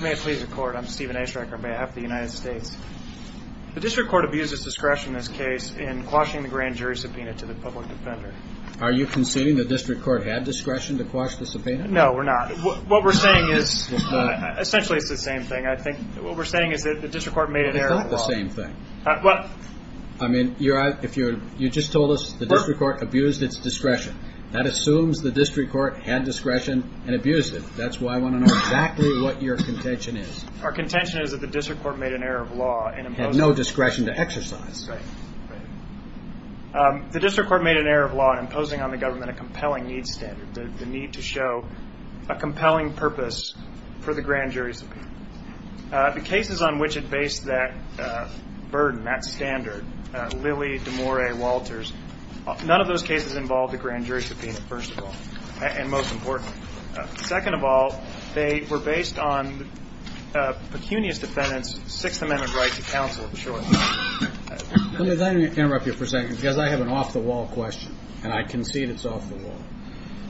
May it please the court, I'm Steven Aeschrecker on behalf of the United States. The district court abused its discretion in this case in quashing the grand jury subpoena to the public defender. Are you conceding the district court had discretion to quash the subpoena? No, we're not. What we're saying is essentially it's the same thing. I think what we're saying is that the district court made an error. It's not the same thing. I mean, you just told us the district court abused its discretion. That assumes the district court had discretion and abused it. That's why I want to know exactly what your contention is. Our contention is that the district court made an error of law. It had no discretion to exercise. Right. The district court made an error of law in imposing on the government a compelling needs standard, the need to show a compelling purpose for the grand jury subpoena. The cases on which it based that burden, that standard, Lilly, Demore, Walters, none of those cases involved a grand jury subpoena, first of all, and most importantly. Second of all, they were based on pecunious defendants' Sixth Amendment right to counsel. Let me then interrupt you for a second because I have an off-the-wall question, and I concede it's off-the-wall.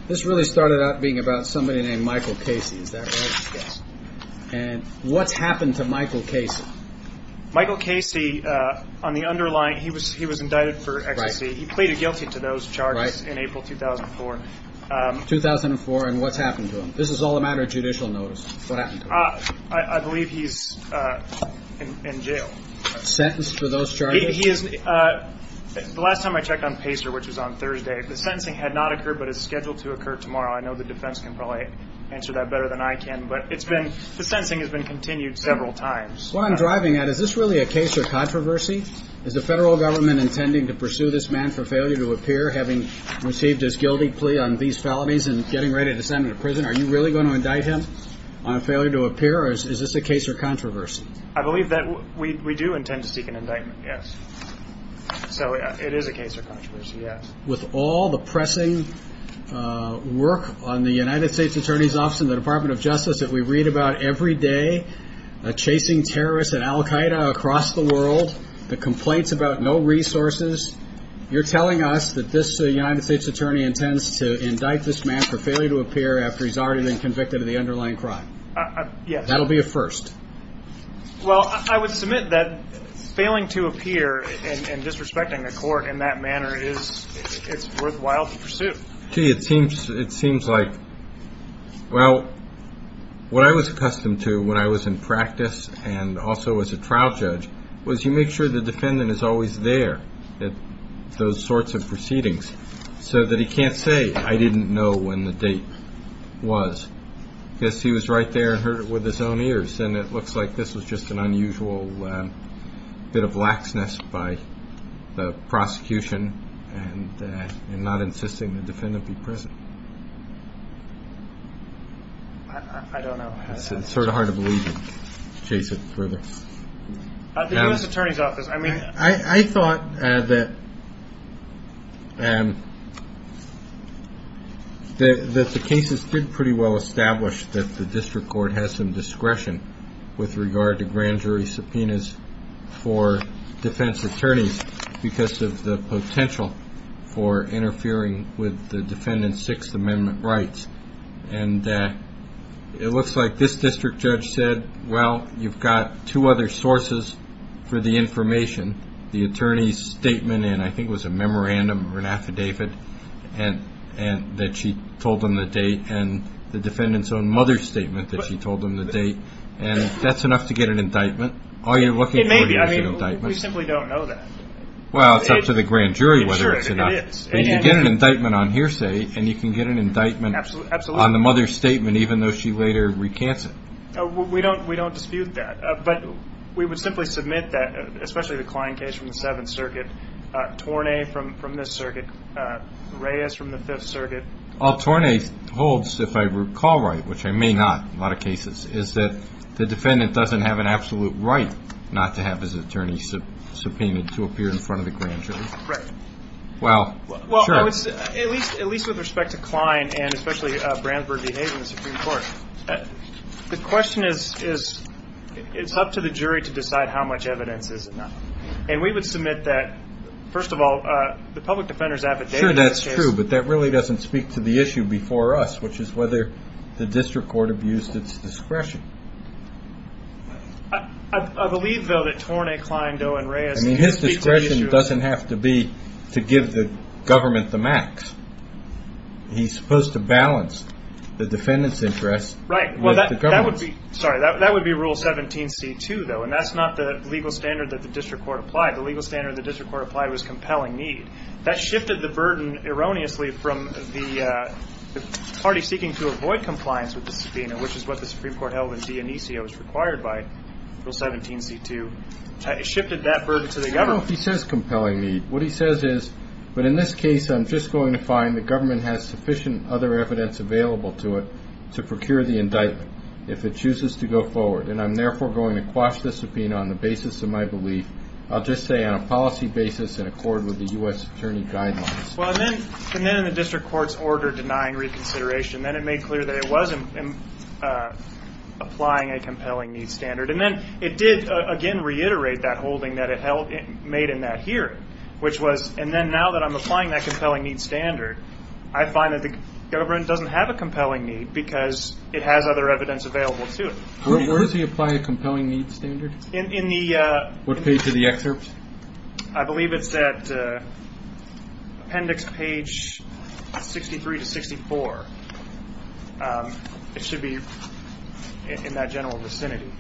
This really started out being about somebody named Michael Casey. Is that right? Yes. And what's happened to Michael Casey? Michael Casey, on the underlying, he was indicted for ecstasy. He pleaded guilty to those charges in April 2004. 2004, and what's happened to him? This is all a matter of judicial notice. What happened to him? I believe he's in jail. Sentenced for those charges? The last time I checked on PACER, which was on Thursday, the sentencing had not occurred but is scheduled to occur tomorrow. I know the defense can probably answer that better than I can, but the sentencing has been continued several times. What I'm driving at, is this really a case of controversy? Is the federal government intending to pursue this man for failure to appear, having received his guilty plea on these felonies and getting ready to send him to prison? Are you really going to indict him on failure to appear, or is this a case of controversy? I believe that we do intend to seek an indictment, yes. So it is a case of controversy, yes. With all the pressing work on the United States Attorney's Office and the Department of Justice that we read about every day, chasing terrorists and Al-Qaeda across the world, the complaints about no resources, you're telling us that this United States Attorney intends to indict this man for failure to appear after he's already been convicted of the underlying crime? Yes. That will be a first. Well, I would submit that failing to appear and disrespecting the court in that manner is worthwhile to pursue. Gee, it seems like, well, what I was accustomed to when I was in practice and also as a trial judge, was you make sure the defendant is always there at those sorts of proceedings, so that he can't say, I didn't know when the date was, because he was right there with his own ears, and it looks like this was just an unusual bit of laxness by the prosecution in not insisting the defendant be present. I don't know. It's sort of hard to believe you chase it further. The U.S. Attorney's Office, I mean. I thought that the cases did pretty well establish that the district court has some discretion with regard to grand jury subpoenas for defense attorneys because of the potential for interfering with the defendant's Sixth Amendment rights. And it looks like this district judge said, well, you've got two other sources for the information, the attorney's statement, and I think it was a memorandum or an affidavit that she told them the date, and the defendant's own mother's statement that she told them the date, and that's enough to get an indictment. All you're looking for is an indictment. We simply don't know that. Well, it's up to the grand jury whether it's enough. Sure, it is. You get an indictment on hearsay, and you can get an indictment on the mother's statement, even though she later recants it. We don't dispute that. But we would simply submit that, especially the Klein case from the Seventh Circuit, Tornay from this circuit, Reyes from the Fifth Circuit. All Tornay holds, if I recall right, which I may not in a lot of cases, is that the defendant doesn't have an absolute right not to have his attorney subpoenaed to appear in front of the grand jury. Right. Well, sure. Well, at least with respect to Klein and especially Brandsburg v. Hayes in the Supreme Court, the question is it's up to the jury to decide how much evidence is enough. And we would submit that, first of all, the public defender's affidavit. Sure, that's true, but that really doesn't speak to the issue before us, which is whether the district court abused its discretion. I believe, though, that Tornay, Klein, Doe, and Reyes speak to the issue. I mean, his discretion doesn't have to be to give the government the max. He's supposed to balance the defendant's interest with the government's. Right. Well, that would be Rule 17c-2, though, and that's not the legal standard that the district court applied. The legal standard the district court applied was compelling need. That shifted the burden erroneously from the party seeking to avoid compliance with the subpoena, which is what the Supreme Court held in de inicia was required by Rule 17c-2. It shifted that burden to the government. I don't know if he says compelling need. What he says is, but in this case, I'm just going to find the government has sufficient other evidence available to it to procure the indictment if it chooses to go forward, and I'm therefore going to quash the subpoena on the basis of my belief. I'll just say on a policy basis in accord with the U.S. Attorney guidelines. Well, and then in the district court's order denying reconsideration, then it made clear that it wasn't applying a compelling need standard. And then it did, again, reiterate that holding that it made in that hearing, which was, and then now that I'm applying that compelling need standard, I find that the government doesn't have a compelling need because it has other evidence available to it. Where does he apply a compelling need standard? In the. What page of the excerpt? I believe it's at appendix page 63 to 64. It should be in that general vicinity.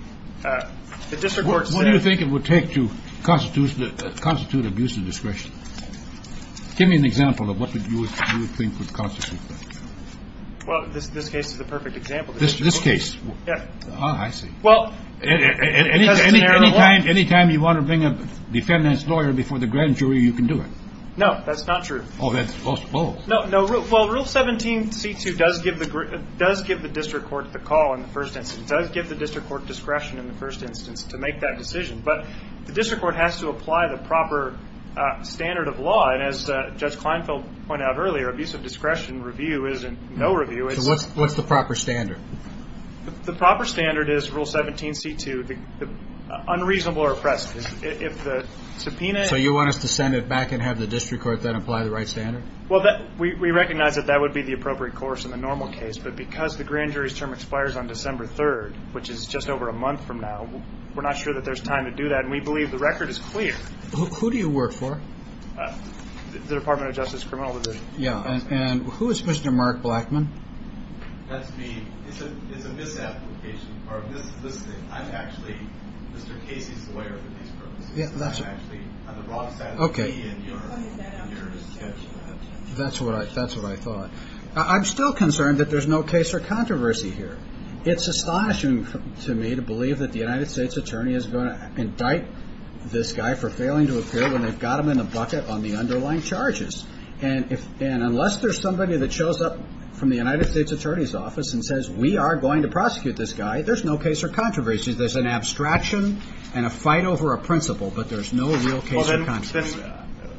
The district court says. What do you think it would take to constitute abuse of discretion? Give me an example of what you would think would constitute that. Well, this case is the perfect example. This case? Yeah. Oh, I see. Well. Any time you want to bring a defendant's lawyer before the grand jury, you can do it. No, that's not true. Oh, that's false. False. No, no. Well, Rule 17, C2 does give the district court the call in the first instance. It does give the district court discretion in the first instance to make that decision. But the district court has to apply the proper standard of law. And as Judge Kleinfeld pointed out earlier, abuse of discretion review is in no review. So what's the proper standard? The proper standard is Rule 17, C2, unreasonable or oppressed. So you want us to send it back and have the district court then apply the right standard? Well, we recognize that that would be the appropriate course in the normal case. But because the grand jury's term expires on December 3rd, which is just over a month from now, we're not sure that there's time to do that. And we believe the record is clear. Who do you work for? The Department of Justice Criminal Division. Yeah. And who is Mr. Mark Blackman? That's me. It's a misapplication. I'm actually Mr. Casey's lawyer for these purposes. I'm actually on the wrong side of the key in your discussion. That's what I thought. I'm still concerned that there's no case or controversy here. It's astonishing to me to believe that the United States attorney is going to indict this guy for failing to appear when they've got him in a bucket on the underlying charges. And unless there's somebody that shows up from the United States attorney's office and says, we are going to prosecute this guy, there's no case or controversy. There's an abstraction and a fight over a principle, but there's no real case or controversy.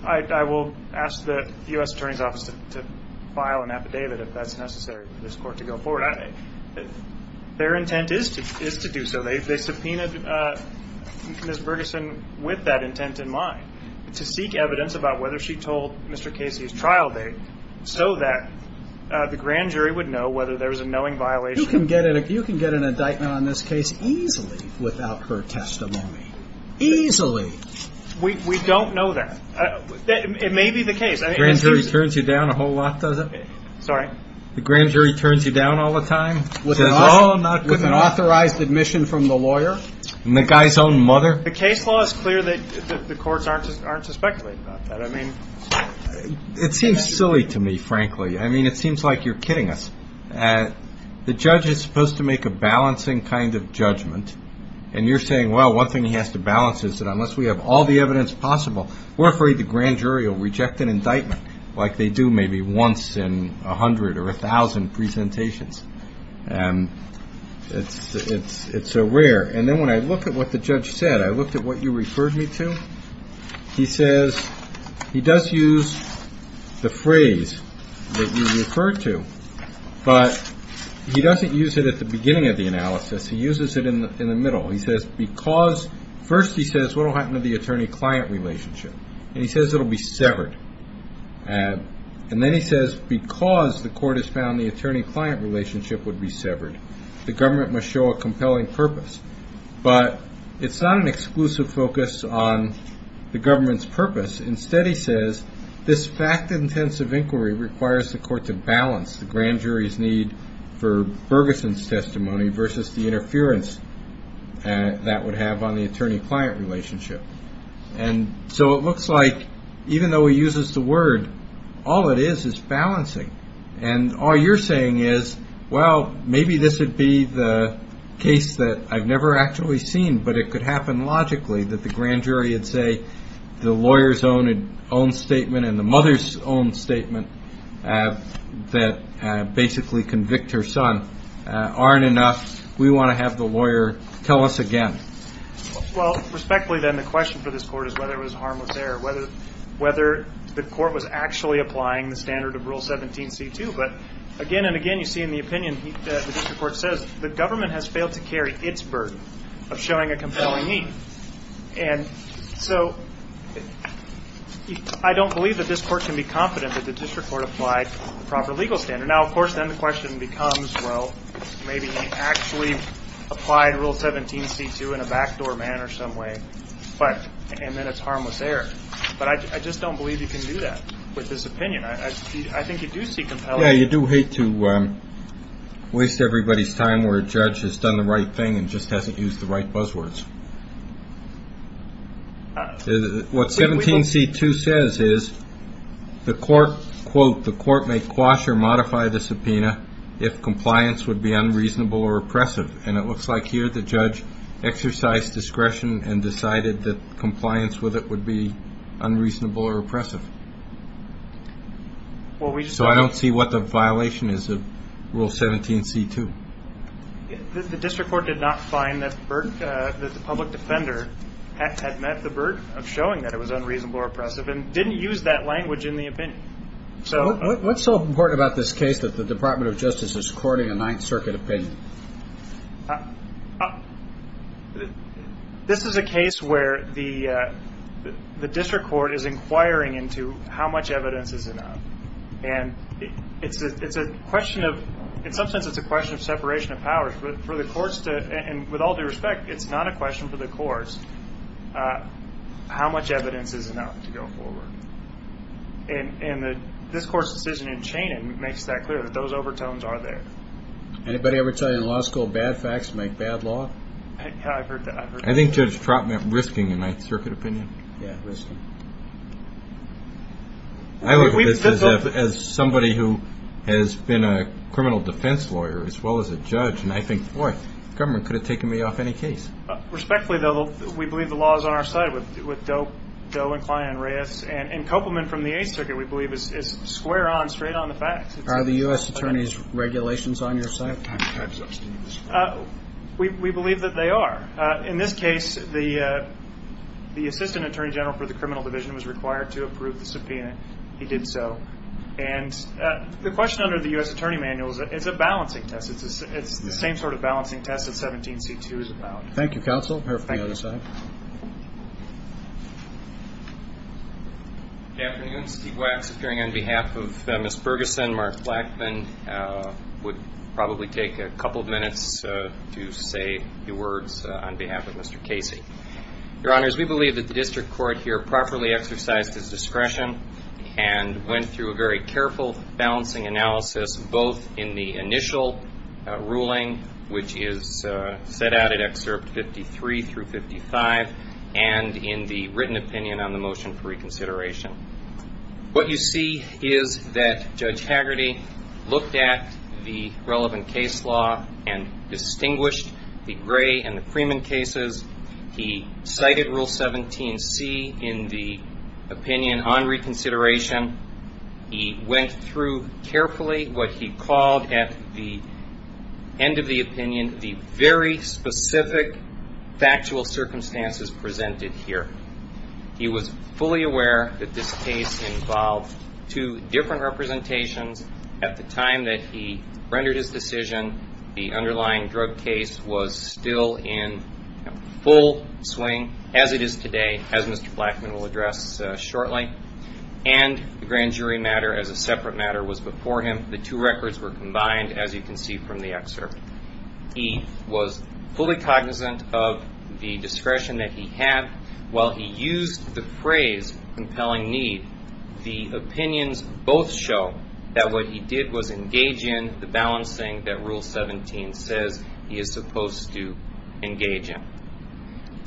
I will ask the U.S. attorney's office to file an affidavit if that's necessary for this court to go forward. Their intent is to do so. They subpoenaed Ms. Bergeson with that intent in mind to seek evidence about whether she told Mr. Casey's trial date so that the grand jury would know whether there was a knowing violation. You can get an indictment on this case easily without her testimony. Easily. We don't know that. It may be the case. The grand jury turns you down a whole lot, does it? Sorry? The grand jury turns you down all the time? With an authorized admission from the lawyer? And the guy's own mother? The case law is clear that the courts aren't to speculate about that. It seems silly to me, frankly. I mean, it seems like you're kidding us. The judge is supposed to make a balancing kind of judgment, and you're saying, well, one thing he has to balance is that unless we have all the evidence possible, we're afraid the grand jury will reject an indictment like they do maybe once in 100 or 1,000 presentations. It's so rare. And then when I look at what the judge said, I looked at what you referred me to, he says he does use the phrase that you referred to, but he doesn't use it at the beginning of the analysis. He uses it in the middle. First he says, what will happen to the attorney-client relationship? And he says it will be severed. And then he says because the court has found the attorney-client relationship would be severed, the government must show a compelling purpose. But it's not an exclusive focus on the government's purpose. Instead, he says, this fact-intensive inquiry requires the court to balance the grand jury's need for Bergeson's testimony versus the interference that would have on the attorney-client relationship. And so it looks like even though he uses the word, all it is is balancing. And all you're saying is, well, maybe this would be the case that I've never actually seen, but it could happen logically that the grand jury would say the lawyer's own statement and the mother's own statement that basically convict her son aren't enough. We want to have the lawyer tell us again. Well, respectfully, then, the question for this court is whether it was harmless error, whether the court was actually applying the standard of Rule 17c2. But again and again you see in the opinion the district court says the government has failed to carry its burden of showing a compelling need. And so I don't believe that this court can be confident that the district court applied the proper legal standard. Now, of course, then the question becomes, well, maybe he actually applied Rule 17c2 in a backdoor manner some way, and then it's harmless error. But I just don't believe you can do that with this opinion. I think you do see compelling. Yeah, you do hate to waste everybody's time where a judge has done the right thing and just hasn't used the right buzzwords. What 17c2 says is the court, quote, the court may quash or modify the subpoena if compliance would be unreasonable or oppressive. And it looks like here the judge exercised discretion So I don't see what the violation is of Rule 17c2. The district court did not find that the public defender had met the burden of showing that it was unreasonable or oppressive and didn't use that language in the opinion. What's so important about this case that the Department of Justice is courting a Ninth Circuit opinion? This is a case where the district court is inquiring into how much evidence is enough. And it's a question of, in some sense, it's a question of separation of powers. For the courts to, and with all due respect, it's not a question for the courts, how much evidence is enough to go forward? And this court's decision in Chanin makes that clear, that those overtones are there. Anybody ever tell you in law school bad facts make bad law? Yeah, I've heard that. I think Judge Trott meant risking in Ninth Circuit opinion. Yeah, risking. I look at this as somebody who has been a criminal defense lawyer as well as a judge, and I think, boy, the government could have taken me off any case. Respectfully, though, we believe the law is on our side with Doe and Klein and Reyes. And Kopelman from the Eighth Circuit, we believe, is square on, straight on the facts. Are the U.S. attorneys' regulations on your side? We believe that they are. In this case, the assistant attorney general for the criminal division was required to approve the subpoena. He did so. And the question under the U.S. attorney manual is it's a balancing test. It's the same sort of balancing test that 17C2 is about. Thank you, counsel. Thank you. Good afternoon. Steve Wax appearing on behalf of Ms. Bergeson. Mark Blackman would probably take a couple of minutes to say a few words on behalf of Mr. Casey. Your Honors, we believe that the district court here properly exercised its discretion and went through a very careful balancing analysis both in the initial ruling, which is set out in Excerpt 53 through 55, and in the written opinion on the motion for reconsideration. What you see is that Judge Hagerty looked at the relevant case law and distinguished the Gray and the Freeman cases. He cited Rule 17C in the opinion on reconsideration. He went through carefully what he called at the end of the opinion the very specific factual circumstances presented here. He was fully aware that this case involved two different representations at the time that he rendered his decision. The underlying drug case was still in full swing as it is today, as Mr. Blackman will address shortly. And the grand jury matter as a separate matter was before him. The two records were combined, as you can see from the excerpt. He was fully cognizant of the discretion that he had. While he used the phrase compelling need, the opinions both show that what he did was engage in the balancing that Rule 17 says he is supposed to engage in.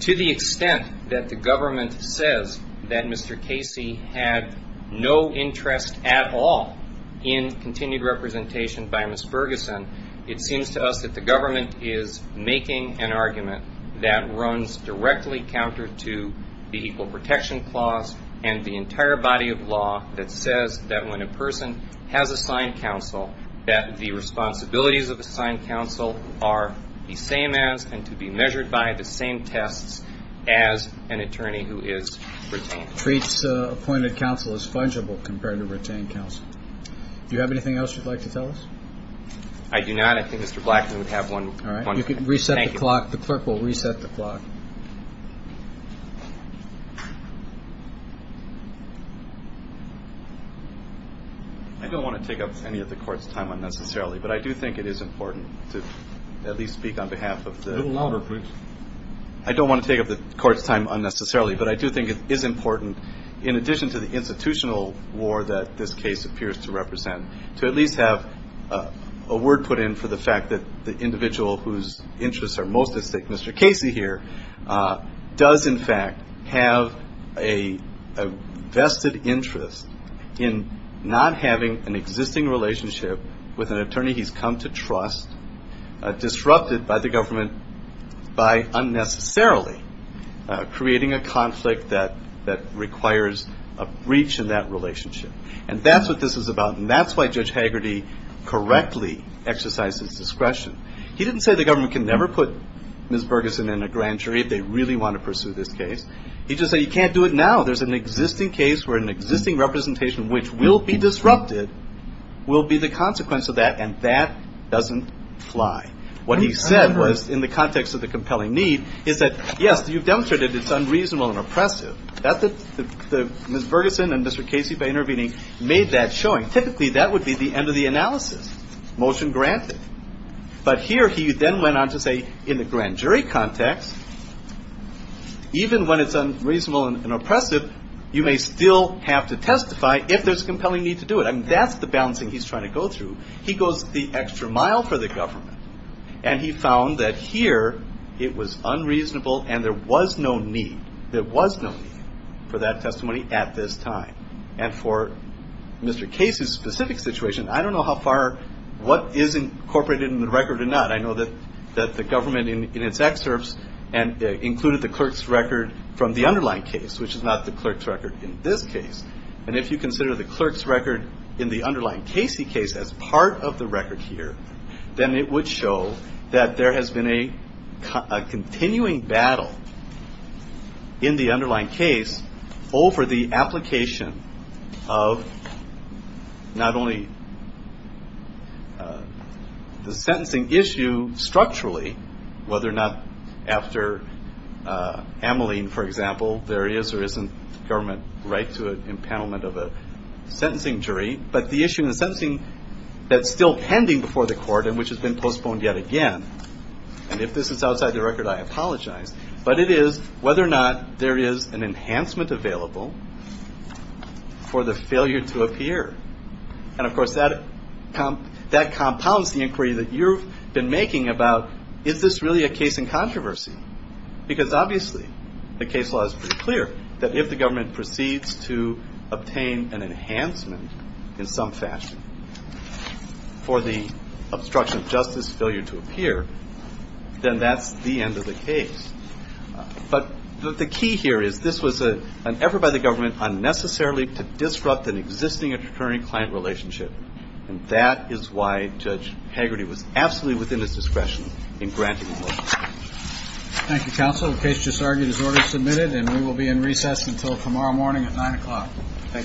To the extent that the government says that Mr. Casey had no interest at all in continued representation by Ms. Ferguson, it seems to us that the government is making an argument that runs directly counter to the Equal Protection Clause and the entire body of law that says that when a person has assigned counsel, that the responsibilities of assigned counsel are the same as and to be measured by the same tests as an attorney who is retained. Treats appointed counsel as fungible compared to retained counsel. Do you have anything else you'd like to tell us? I do not. I think Mr. Blackman would have one. All right. Reset the clock. The clerk will reset the clock. I don't want to take up any of the court's time unnecessarily, but I do think it is important to at least speak on behalf of the. A little louder, please. I don't want to take up the court's time unnecessarily, but I do think it is important. In addition to the institutional war that this case appears to represent, to at least have a word put in for the fact that the individual whose interests are most at stake, Mr. Casey here, does in fact have a vested interest in not having an existing relationship with an attorney he's come to trust disrupted by the government by unnecessarily creating a conflict that requires a breach in that relationship. And that's what this is about, and that's why Judge Hagerty correctly exercised his discretion. He didn't say the government can never put Ms. Bergeson in a grand jury if they really want to pursue this case. He just said you can't do it now. There's an existing case where an existing representation which will be disrupted will be the consequence of that, and that doesn't fly. What he said was in the context of the compelling need is that, yes, you've demonstrated it's unreasonable and oppressive. Ms. Bergeson and Mr. Casey, by intervening, made that showing. Typically, that would be the end of the analysis. Motion granted. But here he then went on to say in the grand jury context, even when it's unreasonable and oppressive, you may still have to testify if there's a compelling need to do it. I mean, that's the balancing he's trying to go through. He goes the extra mile for the government, and he found that here it was unreasonable and there was no need. There was no need for that testimony at this time. And for Mr. Casey's specific situation, I don't know how far what is incorporated in the record or not. I know that the government in its excerpts included the clerk's record from the underlying case, which is not the clerk's record in this case. And if you consider the clerk's record in the underlying Casey case as part of the record here, then it would show that there has been a continuing battle in the underlying case over the application of not only the sentencing issue structurally, whether or not after Ameline, for example, there is or isn't government right to an impoundment of a sentencing jury, but the issue in the sentencing that's still pending before the court and which has been postponed yet again. And if this is outside the record, I apologize. But it is whether or not there is an enhancement available for the failure to appear. And, of course, that compounds the inquiry that you've been making about is this really a case in which it's clear that if the government proceeds to obtain an enhancement in some fashion for the obstruction of justice failure to appear, then that's the end of the case. But the key here is this was an effort by the government unnecessarily to disrupt an existing attorney-client relationship. And that is why Judge Hegarty was absolutely within his discretion in granting the motion. And that motion will be in recess until tomorrow morning at 9 o'clock. Thank you.